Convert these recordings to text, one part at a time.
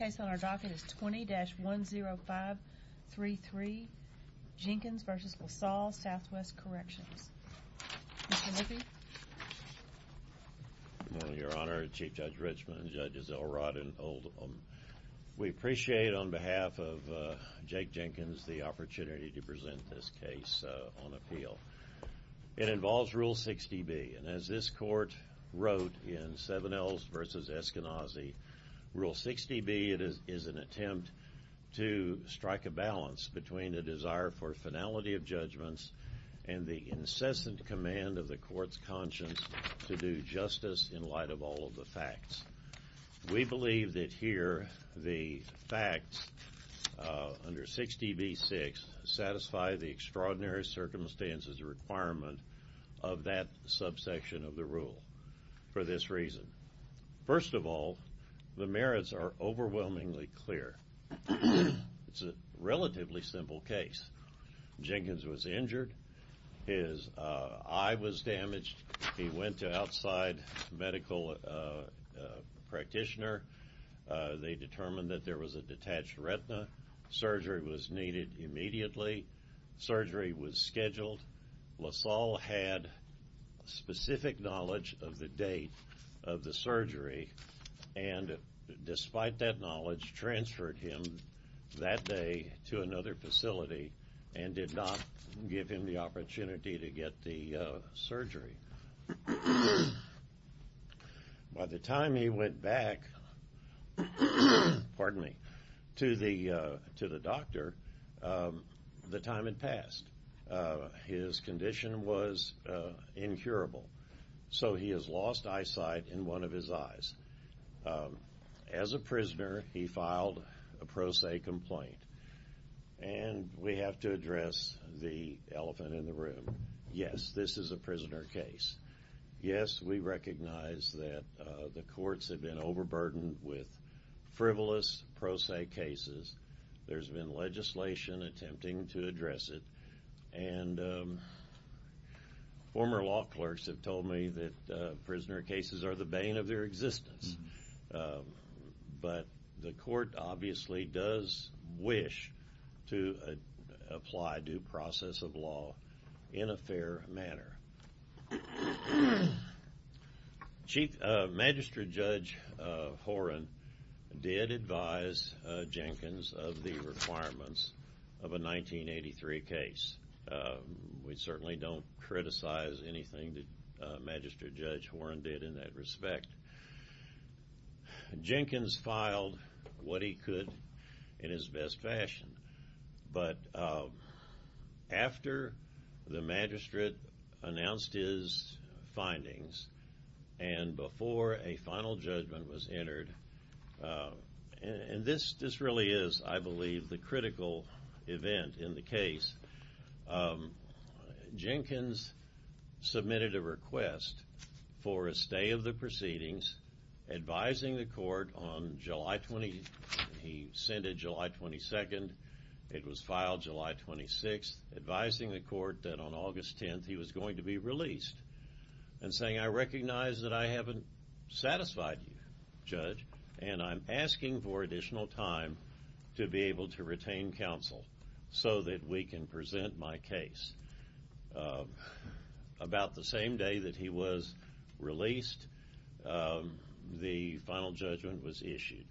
The case on our docket is 20-10533 Jenkins v. Lasalle SW Corrections. Mr. Lippy? Good morning, Your Honor, Chief Judge Richmond, Judges Elrod and Oldham. We appreciate, on behalf of Jake Jenkins, the opportunity to present this case on appeal. It involves Rule 60B, and as this Court wrote in Sevenells v. Eskenazi, Rule 60B is an attempt to strike a balance between a desire for finality of judgments and the incessant command of the Court's conscience to do justice in light of all of the facts. We believe that here the facts under 60B-6 satisfy the extraordinary circumstances requirement of that subsection of the rule for this reason. First of all, the merits are overwhelmingly clear. It's a relatively simple case. Jenkins was injured. His eye was damaged. He went to outside medical practitioner. They determined that there was a detached retina. Surgery was needed immediately. Surgery was scheduled. Lasalle had specific knowledge of the date of the surgery and despite that knowledge transferred him that day to another facility and did not give him the opportunity to get the surgery. By the time he went back to the doctor, the time had passed. His condition was incurable, so he has lost eyesight in one of his eyes. As a prisoner, he filed a pro se complaint, and we have to address the elephant in the room. Yes, this is a prisoner case. Yes, we recognize that the courts have been overburdened with frivolous pro se cases. There's been legislation attempting to address it, and former law clerks have told me that prisoner cases are the bane of their existence, but the court obviously does wish to apply due process of law in a fair manner. Chief Magistrate Judge Horan did advise Jenkins of the requirements of a 1983 case. We certainly don't criticize anything that Magistrate Judge Horan did in that respect. Jenkins filed what he could in his best fashion, but after the magistrate announced his findings and before a final judgment was entered, and this really is, I believe, the critical event in the case, Jenkins submitted a request for a stay of the proceedings, advising the court on July 20. He sent it July 22. It was filed July 26, advising the court that on August 10 he was going to be released and saying, I recognize that I haven't satisfied you, Judge, and I'm asking for additional time to be able to retain counsel so that we can present my case. About the same day that he was released, the final judgment was issued.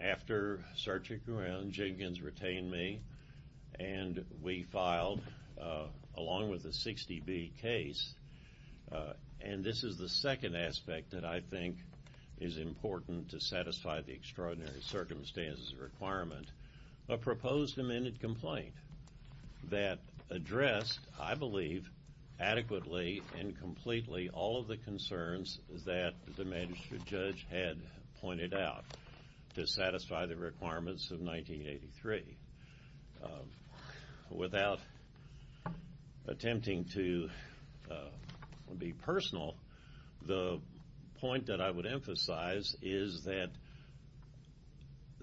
After searching around, Jenkins retained me, and we filed, along with the 60B case, and this is the second aspect that I think is important to satisfy the extraordinary circumstances requirement, a proposed amended complaint that addressed, I believe, adequately and completely all of the concerns that the magistrate judge had pointed out to satisfy the requirements of 1983. Without attempting to be personal, the point that I would emphasize is that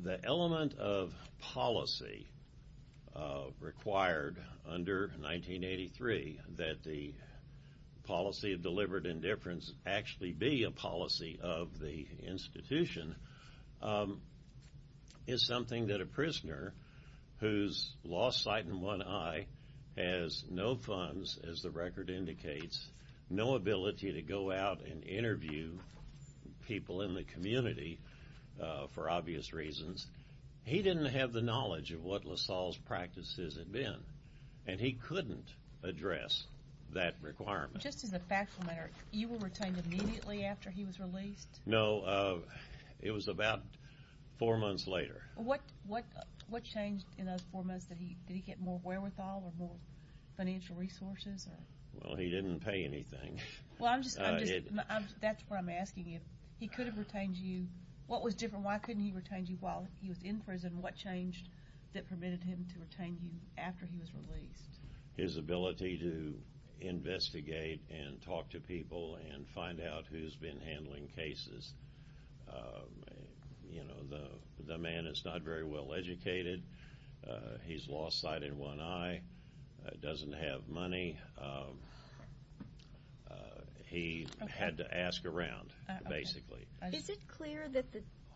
the element of policy required under 1983 that the policy of deliberate indifference actually be a policy of the institution is something that a prisoner who's lost sight in one eye, has no funds, as the record indicates, no ability to go out and interview people in the community for obvious reasons, he didn't have the knowledge of what LaSalle's practices had been, and he couldn't address that requirement. Just as a factual matter, you were retained immediately after he was released? No, it was about four months later. What changed in those four months? Did he get more wherewithal or more financial resources? Well, he didn't pay anything. That's what I'm asking you. He could have retained you. What was different? Why couldn't he retain you while he was in prison? What changed that permitted him to retain you after he was released? His ability to investigate and talk to people and find out who's been handling cases. You know, the man is not very well educated. He's lost sight in one eye, doesn't have money. He had to ask around, basically. Is it clear that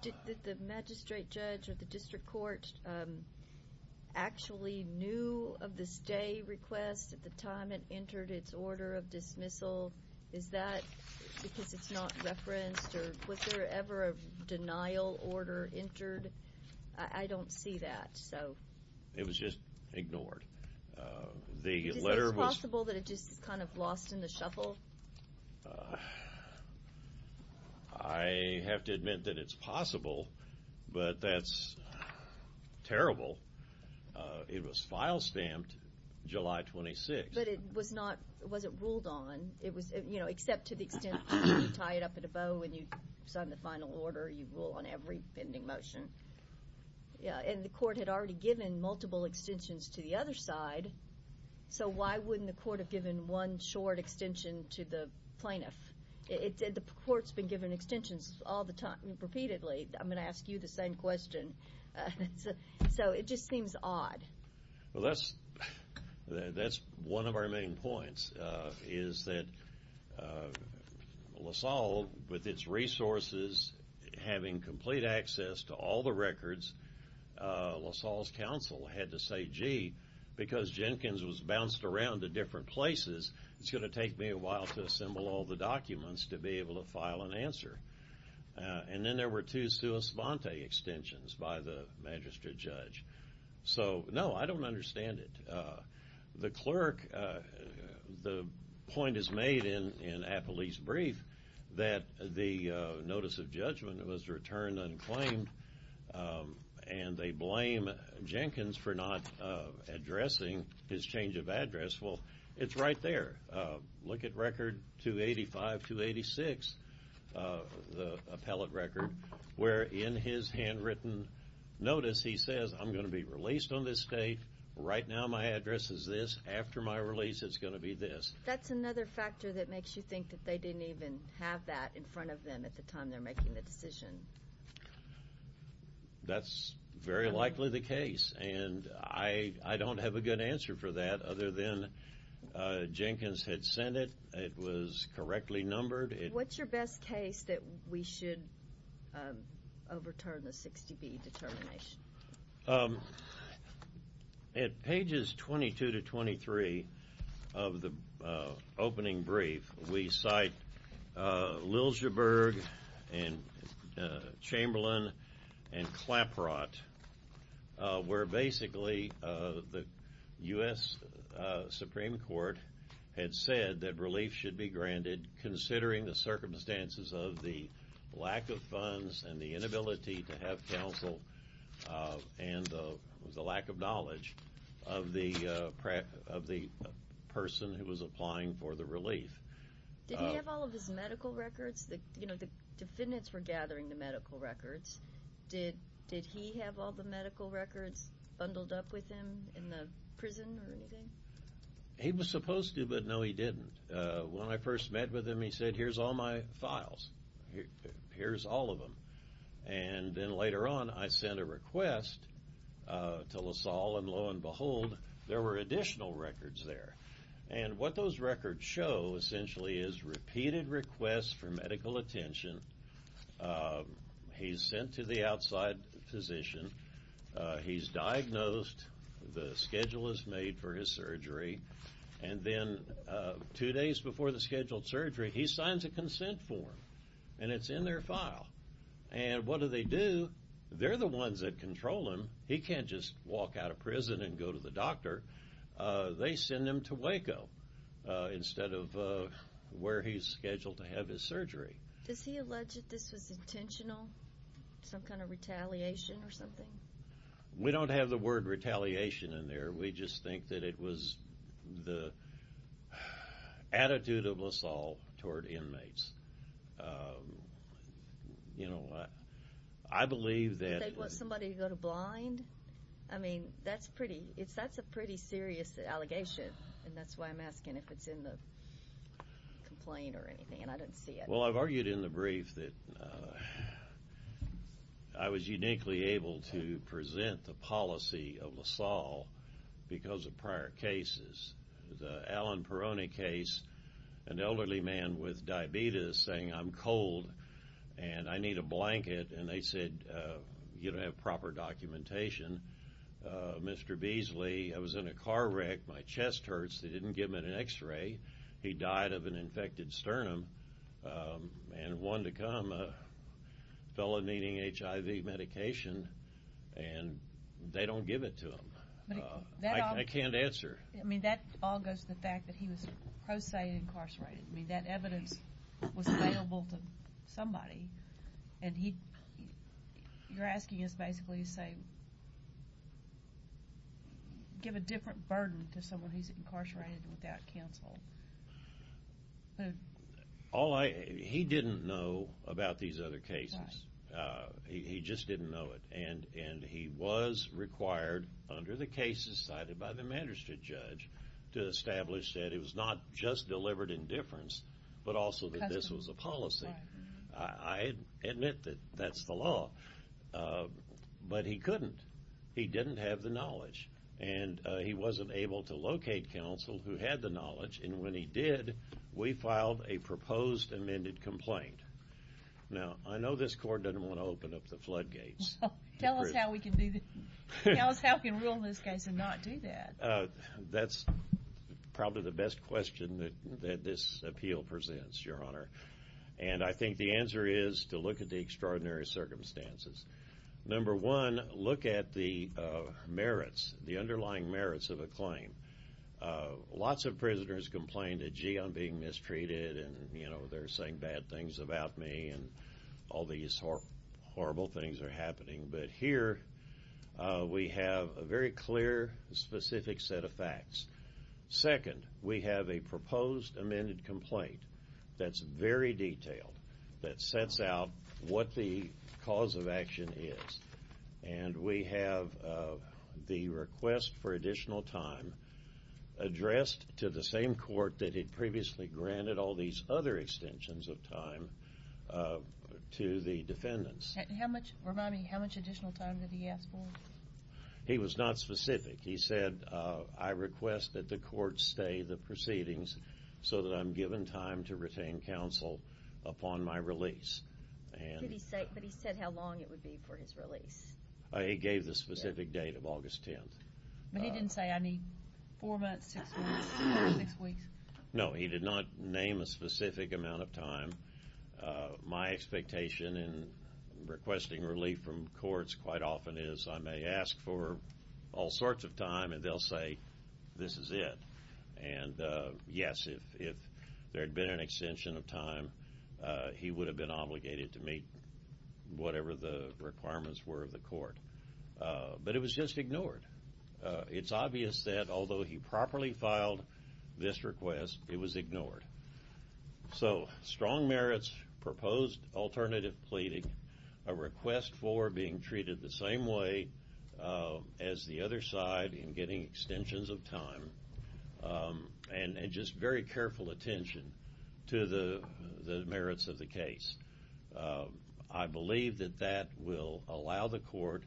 the magistrate judge or the district court actually knew of the stay request at the time it entered its order of dismissal? Is that because it's not referenced, or was there ever a denial order entered? I don't see that. It was just ignored. Is it possible that it just kind of lost in the shuffle? I have to admit that it's possible, but that's terrible. It was file stamped July 26th. But it was not ruled on, except to the extent that you tie it up in a bow and you sign the final order, you rule on every pending motion. And the court had already given multiple extensions to the other side, so why wouldn't the court have given one short extension to the plaintiff? The court's been given extensions all the time, repeatedly. I'm going to ask you the same question. So it just seems odd. Well, that's one of our main points, is that LaSalle, with its resources, having complete access to all the records, LaSalle's counsel had to say, gee, because Jenkins was bounced around to different places, it's going to take me a while to assemble all the documents to be able to file an answer. And then there were two sua svante extensions by the magistrate judge. So, no, I don't understand it. The clerk, the point is made in Apolli's brief that the notice of judgment was returned unclaimed and they blame Jenkins for not addressing his change of address. Well, it's right there. Look at Record 285-286, the appellate record, where in his handwritten notice he says, I'm going to be released on this date, right now my address is this, after my release it's going to be this. That's another factor that makes you think that they didn't even have that in front of them at the time they're making the decision. That's very likely the case, and I don't have a good answer for that other than Jenkins had sent it, it was correctly numbered. What's your best case that we should overturn the 60B determination? At pages 22 to 23 of the opening brief, we cite Liljeburg and Chamberlain and Claprot, where basically the U.S. Supreme Court had said that relief should be granted considering the circumstances of the lack of funds and the inability to have counsel and the lack of knowledge of the person who was applying for the relief. Did he have all of his medical records? The defendants were gathering the medical records. Did he have all the medical records bundled up with him in the prison or anything? He was supposed to, but no, he didn't. When I first met with him, he said, here's all my files. Here's all of them. And then later on I sent a request to LaSalle, and lo and behold, there were additional records there. And what those records show essentially is repeated requests for medical attention. He's sent to the outside physician. He's diagnosed. The schedule is made for his surgery. And then two days before the scheduled surgery, he signs a consent form, and it's in their file. And what do they do? They're the ones that control him. He can't just walk out of prison and go to the doctor. They send him to Waco instead of where he's scheduled to have his surgery. Does he allege that this was intentional, some kind of retaliation or something? We don't have the word retaliation in there. We just think that it was the attitude of LaSalle toward inmates. You know, I believe that. They want somebody to go to blind? I mean, that's a pretty serious allegation, and that's why I'm asking if it's in the complaint or anything. And I don't see it. Well, I've argued in the brief that I was uniquely able to present the policy of LaSalle because of prior cases. The Alan Peroni case, an elderly man with diabetes saying, I'm cold and I need a blanket, and they said, you don't have proper documentation. Mr. Beasley, I was in a car wreck. My chest hurts. They didn't give me an X-ray. He died of an infected sternum. And one to come, a fellow needing HIV medication, and they don't give it to him. I can't answer. I mean, that all goes to the fact that he was pro se incarcerated. I mean, that evidence was available to somebody. And you're asking us basically to say give a different burden to someone who's incarcerated without counsel. He didn't know about these other cases. He just didn't know it. And he was required, under the cases cited by the magistrate judge, to establish that it was not just deliberate indifference, but also that this was a policy. I admit that that's the law. But he couldn't. He didn't have the knowledge. And he wasn't able to locate counsel who had the knowledge. And when he did, we filed a proposed amended complaint. Now, I know this court doesn't want to open up the floodgates. Tell us how we can rule in this case and not do that. That's probably the best question that this appeal presents, Your Honor. And I think the answer is to look at the extraordinary circumstances. Number one, look at the merits, the underlying merits of a claim. Lots of prisoners complained that, gee, I'm being mistreated, and, you know, they're saying bad things about me, and all these horrible things are happening. But here we have a very clear, specific set of facts. Second, we have a proposed amended complaint that's very detailed, that sets out what the cause of action is. And we have the request for additional time addressed to the same court that had previously granted all these other extensions of time to the defendants. Remind me, how much additional time did he ask for? He was not specific. He said, I request that the court stay the proceedings so that I'm given time to retain counsel upon my release. But he said how long it would be for his release. He gave the specific date of August 10th. But he didn't say, I need four months, six weeks, six weeks. No, he did not name a specific amount of time. My expectation in requesting relief from courts quite often is I may ask for all sorts of time, and they'll say, this is it. And, yes, if there had been an extension of time, he would have been obligated to meet whatever the requirements were of the court. But it was just ignored. It's obvious that although he properly filed this request, it was ignored. So strong merits, proposed alternative pleading, a request for being treated the same way as the other side in getting extensions of time, and just very careful attention to the merits of the case. I believe that that will allow the court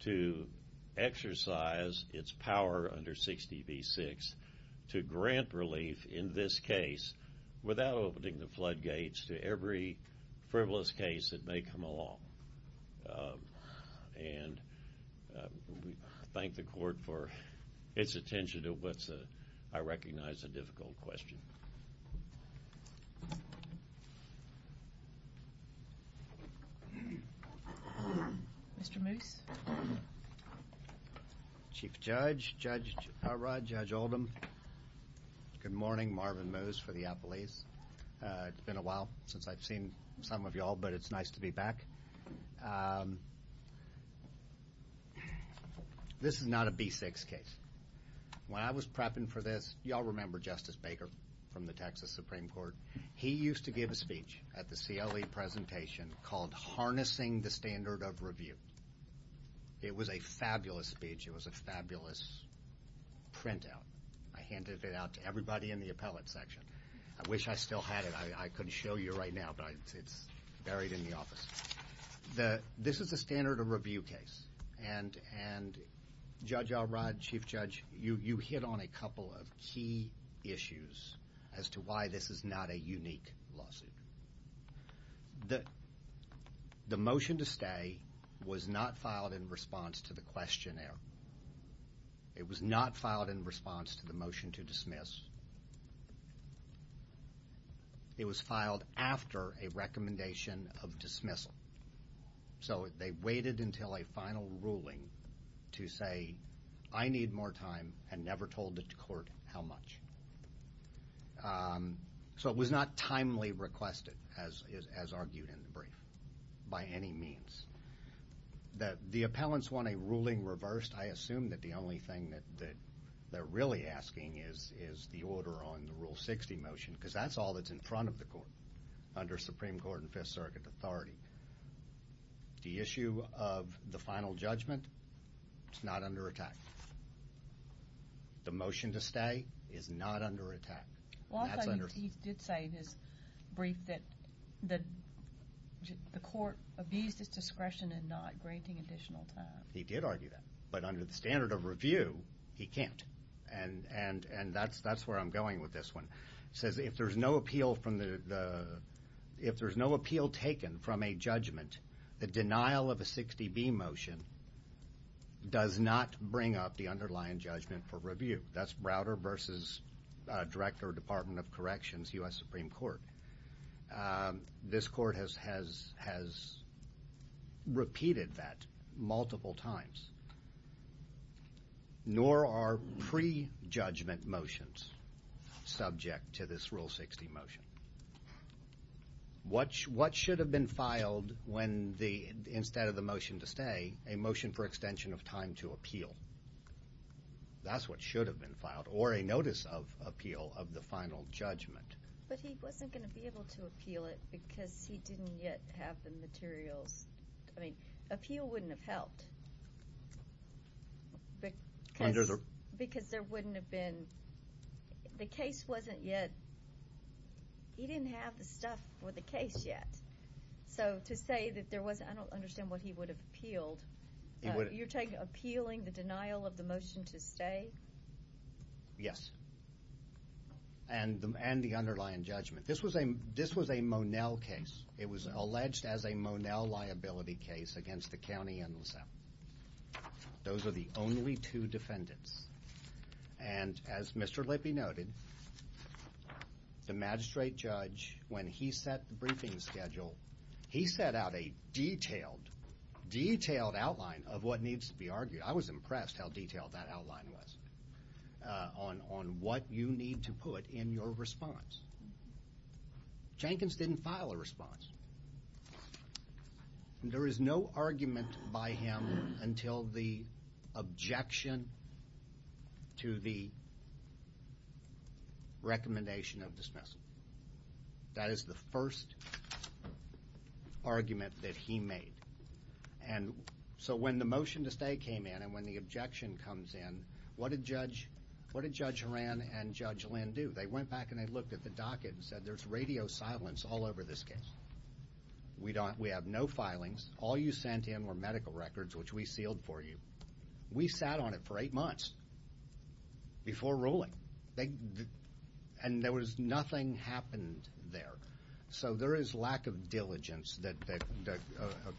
to exercise its power under 60B-6 to grant relief in this case without opening the floodgates to every frivolous case that may come along. And we thank the court for its attention to what's, I recognize, a difficult question. Mr. Moose? Chief Judge, Judge Harrod, Judge Oldham, good morning. Marvin Moose for the Appalachians. It's been a while since I've seen some of you all, but it's nice to be back. This is not a B-6 case. When I was prepping for this, you all remember Justice Baker from the Texas Supreme Court. He used to give a speech at the CLE presentation called Harnessing the Standard of Review. It was a fabulous speech. It was a fabulous printout. I handed it out to everybody in the appellate section. I wish I still had it. I couldn't show you right now, but it's buried in the office. This is a standard of review case, and Judge Harrod, Chief Judge, you hit on a couple of key issues as to why this is not a unique lawsuit. The motion to stay was not filed in response to the questionnaire. It was not filed in response to the motion to dismiss. It was filed after a recommendation of dismissal. So they waited until a final ruling to say, I need more time, and never told the court how much. So it was not timely requested, as argued in the brief, by any means. The appellants want a ruling reversed. I assume that the only thing that they're really asking is the order on the Rule 60 motion, because that's all that's in front of the court under Supreme Court and Fifth Circuit authority. The issue of the final judgment is not under attack. The motion to stay is not under attack. He did say in his brief that the court abused its discretion in not granting additional time. He did argue that, but under the standard of review, he can't. And that's where I'm going with this one. It says if there's no appeal taken from a judgment, the denial of a 60B motion does not bring up the underlying judgment for review. That's Browder v. Director of Department of Corrections, U.S. Supreme Court. This court has repeated that multiple times. Nor are pre-judgment motions subject to this Rule 60 motion. What should have been filed when, instead of the motion to stay, a motion for extension of time to appeal? That's what should have been filed, or a notice of appeal of the final judgment. But he wasn't going to be able to appeal it because he didn't yet have the materials. I mean, appeal wouldn't have helped because there wouldn't have been the case wasn't yet. He didn't have the stuff for the case yet. So to say that there wasn't, I don't understand what he would have appealed. You're appealing the denial of the motion to stay? Yes. And the underlying judgment. This was a Monell case. It was alleged as a Monell liability case against the county and LaSalle. Those are the only two defendants. And as Mr. Lippe noted, the magistrate judge, when he set the briefing schedule, he set out a detailed, detailed outline of what needs to be argued. I was impressed how detailed that outline was on what you need to put in your response. Jenkins didn't file a response. There is no argument by him until the objection to the recommendation of dismissal. That is the first argument that he made. And so when the motion to stay came in and when the objection comes in, what did Judge Horan and Judge Lynn do? They went back and they looked at the docket and said there's radio silence all over this case. We have no filings. All you sent in were medical records, which we sealed for you. We sat on it for eight months before ruling. And nothing happened there. So there is lack of diligence that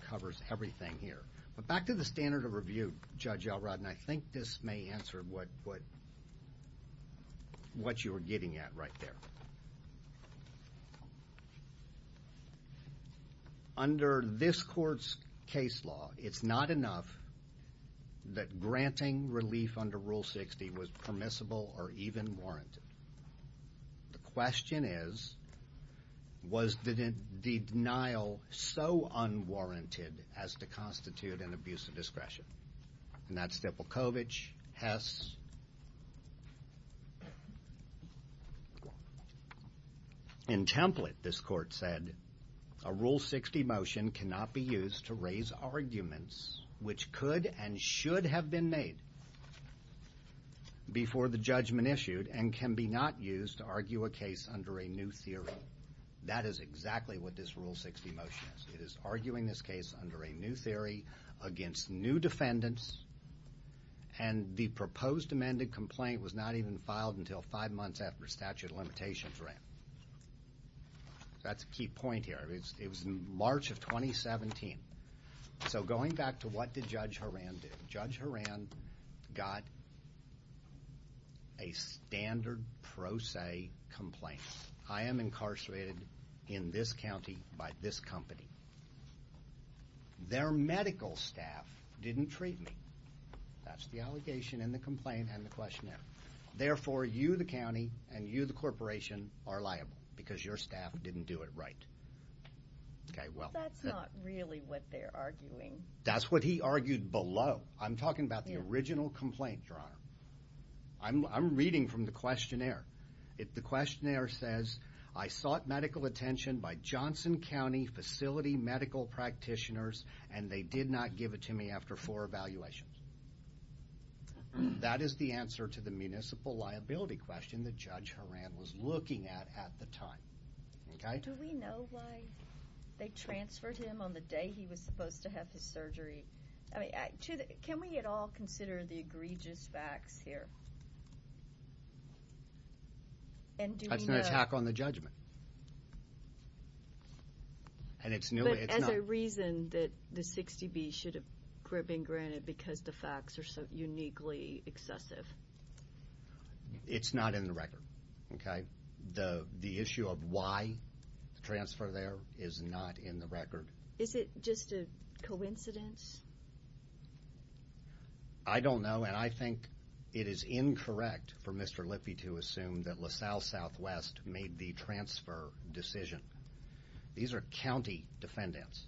covers everything here. But back to the standard of review, Judge Elrod, and I think this may answer what you were getting at right there. Under this court's case law, it's not enough that granting relief under Rule 60 was permissible or even warranted. The question is, was the denial so unwarranted as to constitute an abuse of discretion? And that's Stiplekovich, Hess. In template, this court said, a Rule 60 motion cannot be used to raise arguments which could and should have been made before the judgment issued and can be not used to argue a case under a new theory. That is exactly what this Rule 60 motion is. It is arguing this case under a new theory against new defendants, and the proposed amended complaint was not even filed until five months after statute of limitations ran. That's a key point here. It was in March of 2017. So going back to what did Judge Horan do? Judge Horan got a standard pro se complaint. I am incarcerated in this county by this company. Their medical staff didn't treat me. That's the allegation in the complaint and the questionnaire. Therefore, you, the county, and you, the corporation, are liable because your staff didn't do it right. That's not really what they're arguing. That's what he argued below. I'm talking about the original complaint, Your Honor. I'm reading from the questionnaire. The questionnaire says, I sought medical attention by Johnson County facility medical practitioners, and they did not give it to me after four evaluations. That is the answer to the municipal liability question that Judge Horan was looking at at the time. Do we know why they transferred him on the day he was supposed to have his surgery? Can we at all consider the egregious facts here? That's an attack on the judgment. But as a reason that the 60B should have been granted because the facts are so uniquely excessive. It's not in the record. The issue of why the transfer there is not in the record. Is it just a coincidence? I don't know, and I think it is incorrect for Mr. Lippe to assume that LaSalle Southwest made the transfer decision. These are county defendants.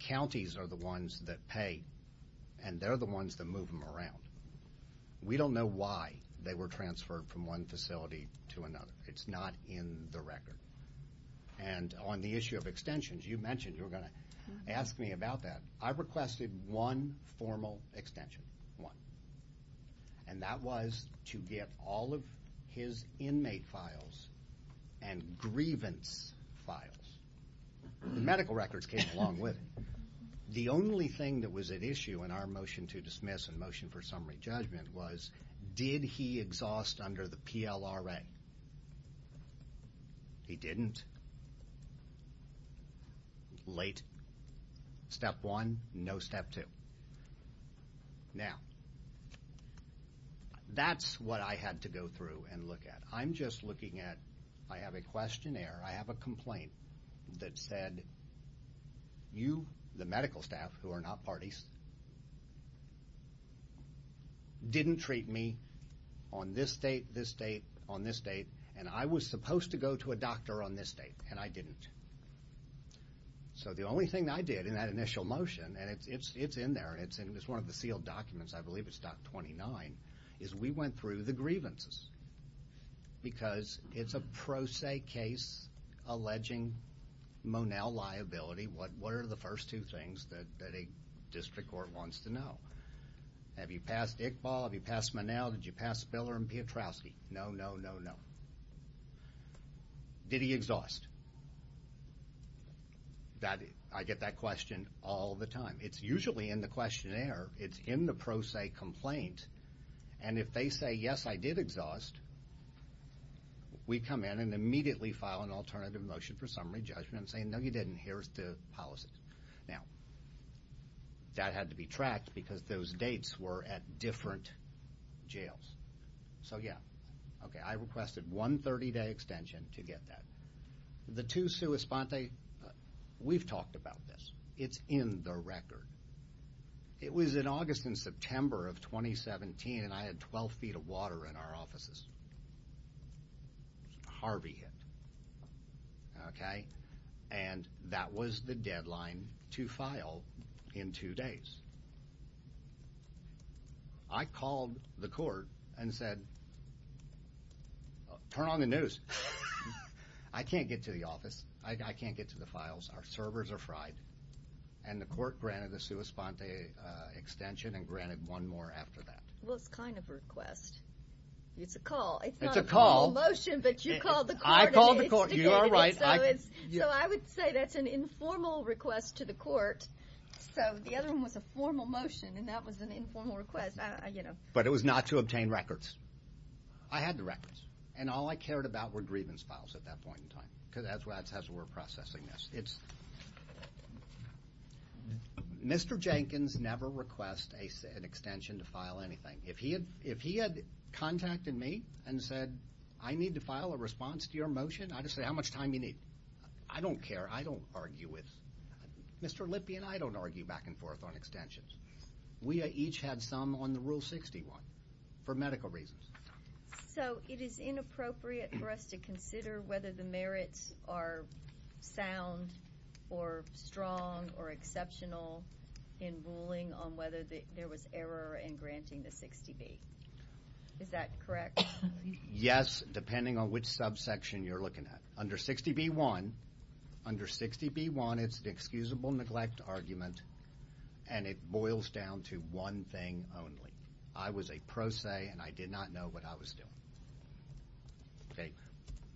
Counties are the ones that pay, and they're the ones that move them around. We don't know why they were transferred from one facility to another. It's not in the record. And on the issue of extensions, you mentioned you were going to ask me about that. I requested one formal extension, one. And that was to get all of his inmate files and grievance files. The medical records came along with it. The only thing that was at issue in our motion to dismiss and motion for summary judgment was did he exhaust under the PLRA? He didn't. Late. Step one, no step two. Now, that's what I had to go through and look at. I have a questionnaire. I have a complaint that said you, the medical staff, who are not parties, didn't treat me on this date, this date, on this date, and I was supposed to go to a doctor on this date, and I didn't. So the only thing I did in that initial motion, and it's in there, and it's one of the sealed documents. I believe it's Doc 29, is we went through the grievances because it's a pro se case alleging Monell liability. What are the first two things that a district court wants to know? Have you passed Iqbal? Have you passed Monell? Did you pass Spiller and Piotrowski? No, no, no, no. Did he exhaust? I get that question all the time. It's usually in the questionnaire. It's in the pro se complaint, and if they say, yes, I did exhaust, we come in and immediately file an alternative motion for summary judgment and say, no, you didn't. Here's the policy. Now, that had to be tracked because those dates were at different jails. So, yeah, okay, I requested one 30-day extension to get that. The two sua sponte, we've talked about this. It's in the record. It was in August and September of 2017, and I had 12 feet of water in our offices. Harvey hit, okay, and that was the deadline to file in two days. I called the court and said, turn on the news. I can't get to the office. I can't get to the files. Our servers are fried, and the court granted the sua sponte extension and granted one more after that. Well, it's kind of a request. It's a call. It's a call. It's not a formal motion, but you called the court. I called the court. You are right. So I would say that's an informal request to the court. So the other one was a formal motion, and that was an informal request. But it was not to obtain records. I had the records, and all I cared about were grievance files at that point in time because that's how we're processing this. It's Mr. Jenkins never requests an extension to file anything. If he had contacted me and said, I need to file a response to your motion, I'd just say, how much time do you need? I don't care. I don't argue with Mr. Lippy, and I don't argue back and forth on extensions. We each had some on the Rule 61 for medical reasons. So it is inappropriate for us to consider whether the merits are sound or strong or exceptional in ruling on whether there was error in granting the 60B. Is that correct? Yes, depending on which subsection you're looking at. Under 60B-1, under 60B-1, it's an excusable neglect argument, and it boils down to one thing only. I was a pro se, and I did not know what I was doing.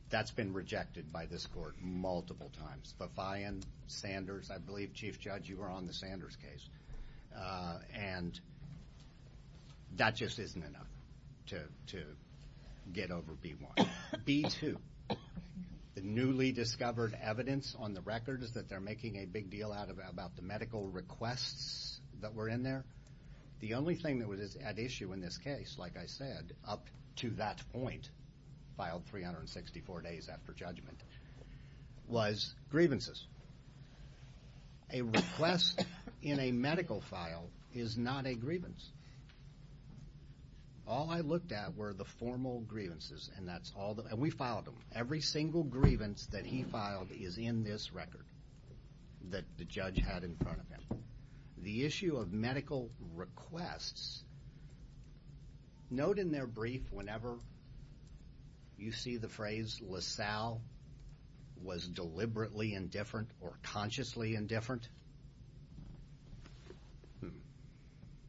That's been rejected by this court multiple times. Buffion, Sanders, I believe, Chief Judge, you were on the Sanders case. And that just isn't enough to get over B-1. B-2, the newly discovered evidence on the record is that they're making a big deal out about the medical requests that were in there. The only thing that was at issue in this case, like I said, up to that point, filed 364 days after judgment, was grievances. A request in a medical file is not a grievance. All I looked at were the formal grievances, and we filed them. Every single grievance that he filed is in this record that the judge had in front of him. Now, the issue of medical requests, note in their brief whenever you see the phrase, LaSalle was deliberately indifferent or consciously indifferent,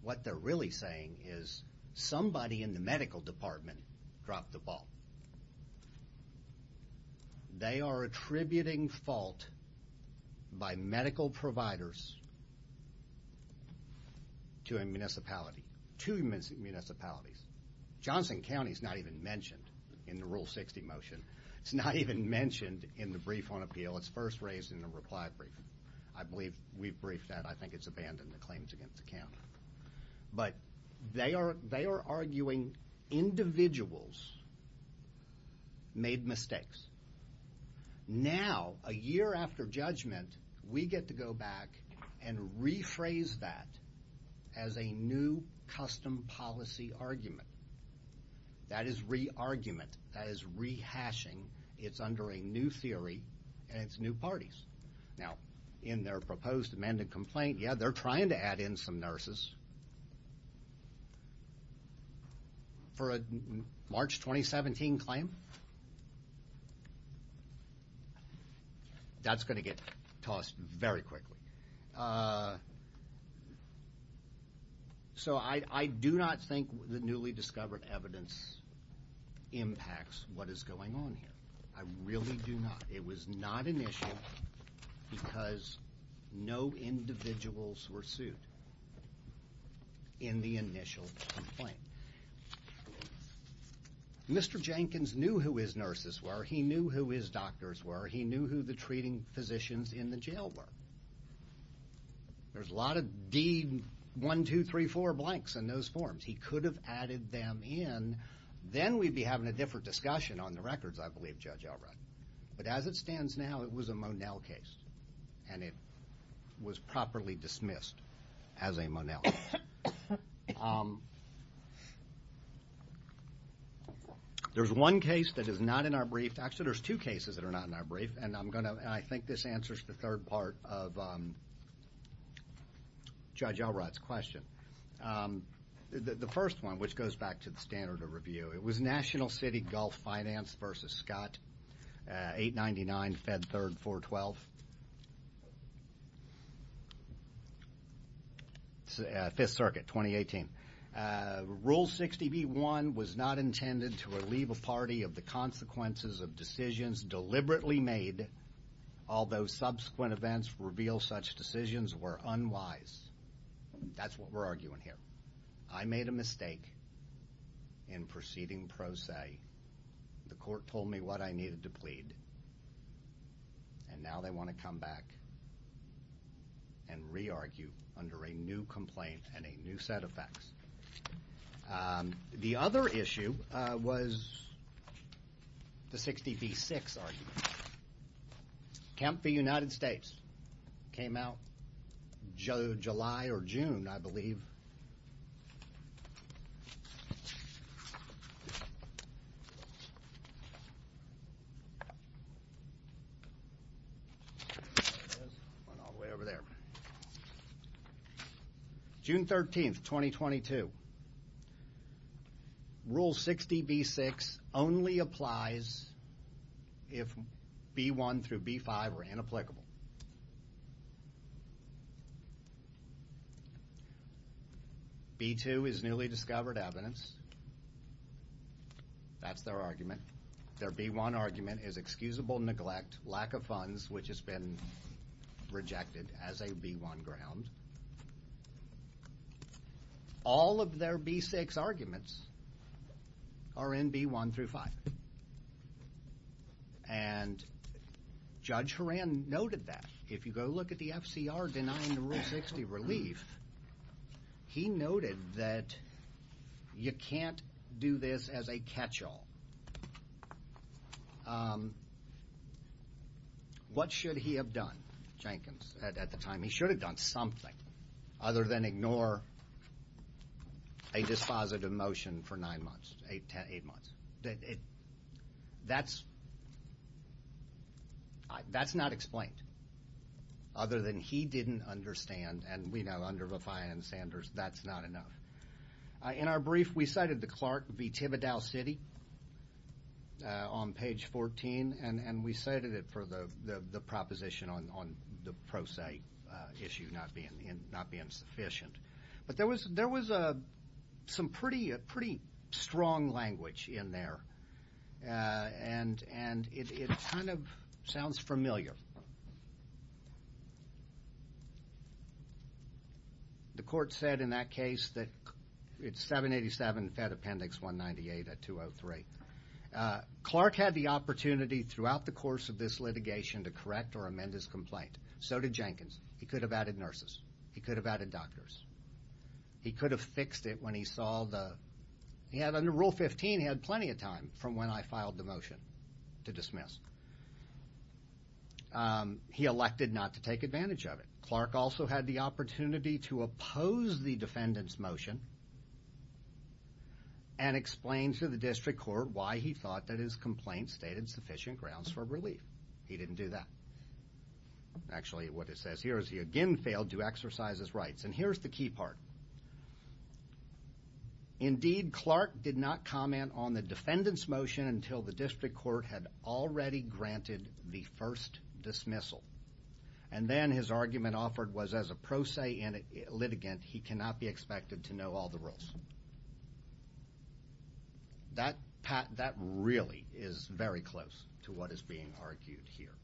what they're really saying is somebody in the medical department dropped the ball. They are attributing fault by medical providers to a municipality, to municipalities. Johnson County is not even mentioned in the Rule 60 motion. It's not even mentioned in the brief on appeal. It's first raised in the reply brief. I believe we've briefed that. I think it's abandoned the claims against the county. But they are arguing individuals made mistakes. Now, a year after judgment, we get to go back and rephrase that as a new custom policy argument. That is re-argument. That is rehashing. It's under a new theory, and it's new parties. Now, in their proposed amended complaint, yeah, they're trying to add in some nurses for a March 2017 claim. That's going to get tossed very quickly. So I do not think the newly discovered evidence impacts what is going on here. I really do not. It was not an issue because no individuals were sued in the initial complaint. Mr. Jenkins knew who his nurses were. He knew who his doctors were. He knew who the treating physicians in the jail were. There's a lot of D1234 blanks in those forms. He could have added them in. Then we'd be having a different discussion on the records, I believe, Judge Elrod. But as it stands now, it was a Monell case, and it was properly dismissed as a Monell case. There's one case that is not in our brief. Actually, there's two cases that are not in our brief, and I think this answers the third part of Judge Elrod's question. The first one, which goes back to the standard of review. It was National City Gulf Finance v. Scott, 899 Fed Third 412. Fifth Circuit, 2018. Rule 60b-1 was not intended to alleve a party of the consequences of decisions deliberately made, although subsequent events reveal such decisions were unwise. That's what we're arguing here. I made a mistake in proceeding pro se. The court told me what I needed to plead. And now they want to come back and re-argue under a new complaint and a new set of facts. The other issue was the 60b-6 argument. Camp v. United States came out July or June, I believe. June 13, 2022. Rule 60b-6 only applies if b-1 through b-5 are inapplicable. B-2 is newly discovered evidence. That's their argument. Their b-1 argument is excusable neglect, lack of funds, which has been rejected as a b-1 ground. All of their b-6 arguments are in b-1 through 5. And Judge Horan noted that. If you go look at the FCR denying the Rule 60 relief, he noted that you can't do this as a catch-all. What should he have done, Jenkins, at the time? I mean, he should have done something other than ignore a dispositive motion for nine months, eight months. That's not explained. Other than he didn't understand, and we know under Viffian and Sanders, that's not enough. In our brief, we cited the Clark v. Thibodaux City on page 14. And we cited it for the proposition on the pro se issue not being sufficient. But there was some pretty strong language in there. And it kind of sounds familiar. The court said in that case that it's 787 Fed Appendix 198 at 203. Clark had the opportunity throughout the course of this litigation to correct or amend his complaint. So did Jenkins. He could have added nurses. He could have added doctors. He could have fixed it when he saw the... He had, under Rule 15, he had plenty of time from when I filed the motion to dismiss. He elected not to take advantage of it. Clark also had the opportunity to oppose the defendant's motion and explain to the district court why he thought that his complaint stated sufficient grounds for relief. He didn't do that. Actually, what it says here is he again failed to exercise his rights. And here's the key part. Indeed, Clark did not comment on the defendant's motion until the district court had already granted the first dismissal. And then his argument offered was as a pro se litigant, he cannot be expected to know all the rules. That really is very close to what is being argued here.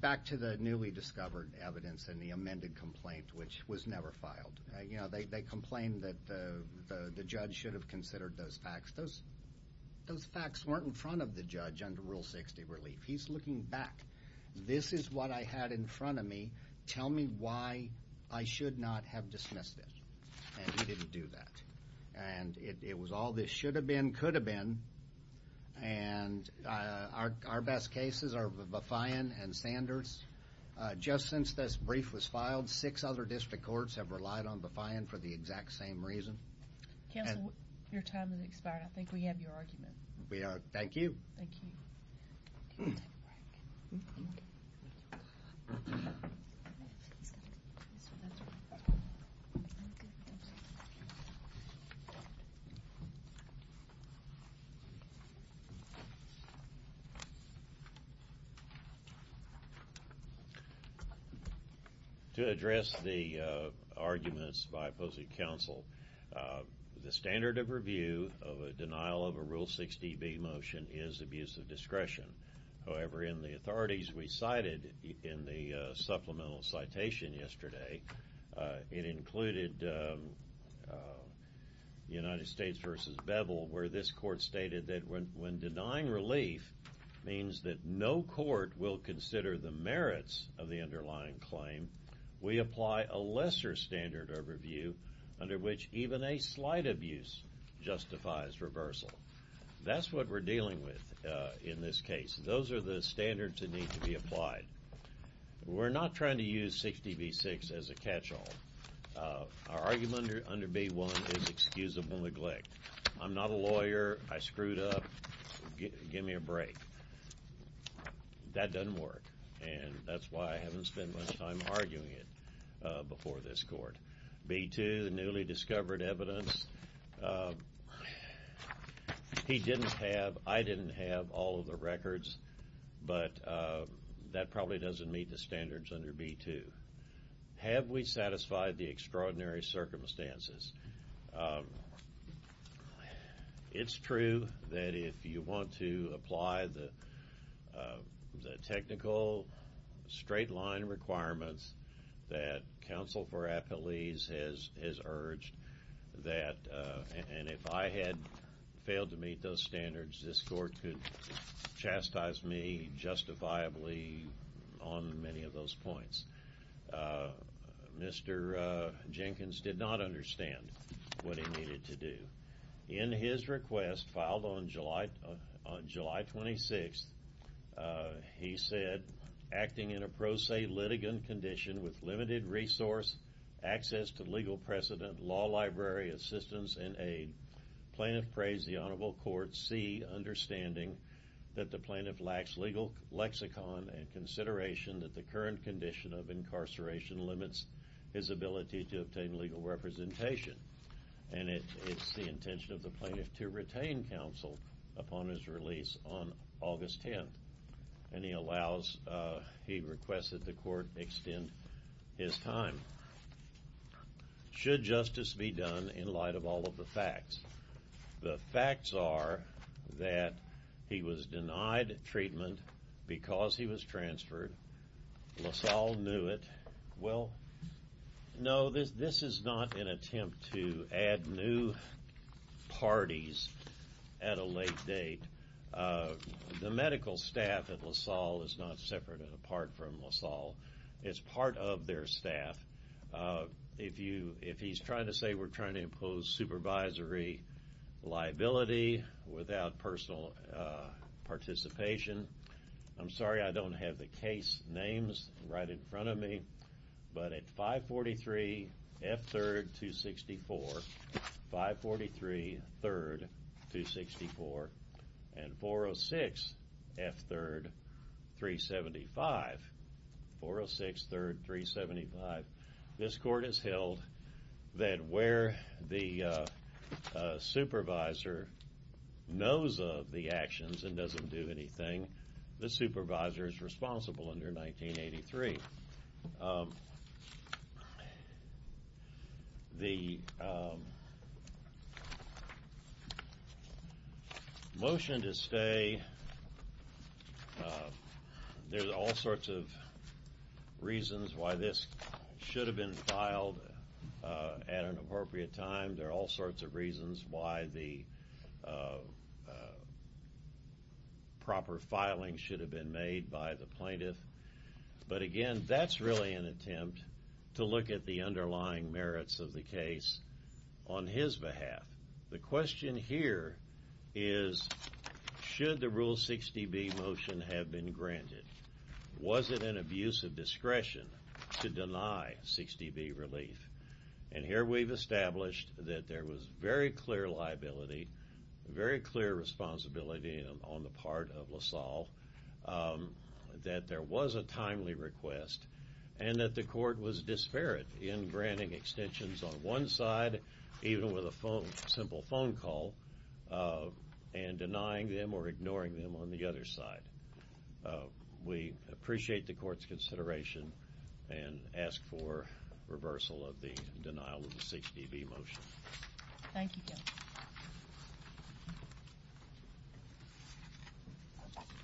Back to the newly discovered evidence in the amended complaint, which was never filed. They complained that the judge should have considered those facts. Those facts weren't in front of the judge under Rule 60 relief. He's looking back. This is what I had in front of me. Tell me why I should not have dismissed it. And he didn't do that. And it was all this should have been, could have been. And our best cases are Befyan and Sanders. Just since this brief was filed, six other district courts have relied on Befyan for the exact same reason. Counsel, your time has expired. I think we have your argument. Thank you. Thank you. Take a break. To address the arguments by opposing counsel, the standard of review of a denial of a Rule 60b motion is abuse of discretion. However, in the authorities we cited in the supplemental citation yesterday, it included United States v. Bevel, where this court stated that when denying relief means that no court will consider the merits of the underlying claim, we apply a lesser standard of review under which even a slight abuse justifies reversal. That's what we're dealing with in this case. Those are the standards that need to be applied. We're not trying to use 60b-6 as a catch-all. Our argument under B-1 is excusable neglect. I'm not a lawyer. I screwed up. Give me a break. That doesn't work. And that's why I haven't spent much time arguing it before this court. B-2, newly discovered evidence. He didn't have, I didn't have all of the records, but that probably doesn't meet the standards under B-2. Have we satisfied the extraordinary circumstances? It's true that if you want to apply the technical straight-line requirements that counsel for appellees has urged, and if I had failed to meet those standards, this court could chastise me justifiably on many of those points. Mr. Jenkins did not understand what he needed to do. In his request filed on July 26th, he said, acting in a pro se litigant condition with limited resource, access to legal precedent, law library, assistance, and aid, plaintiff praised the honorable court, C, understanding that the plaintiff lacks legal lexicon and consideration that the current condition of incarceration limits his ability to obtain legal representation. And it's the intention of the plaintiff to retain counsel upon his release on August 10th. And he allows, he requests that the court extend his time. Should justice be done in light of all of the facts? The facts are that he was denied treatment because he was transferred. LaSalle knew it. Well, no, this is not an attempt to add new parties at a late date. The medical staff at LaSalle is not separate and apart from LaSalle. It's part of their staff. If he's trying to say we're trying to impose supervisory liability without personal participation, I'm sorry I don't have the case names right in front of me, but at 543 F. 3rd, 264, 543 3rd, 264, and 406 F. 3rd, 375, 406 3rd, 375, this court has held that where the supervisor knows of the actions and doesn't do anything, the supervisor is responsible under 1983. The motion to stay, there's all sorts of reasons why this should have been filed at an appropriate time. There are all sorts of reasons why the proper filing should have been made by the plaintiff. But again, that's really an attempt to look at the underlying merits of the case on his behalf. The question here is should the Rule 60B motion have been granted? Was it an abuse of discretion to deny 60B relief? And here we've established that there was very clear liability, very clear responsibility on the part of LaSalle, that there was a timely request, and that the court was disparate in granting extensions on one side, even with a simple phone call, and denying them or ignoring them on the other side. We appreciate the court's consideration and ask for reversal of the denial of the 60B motion.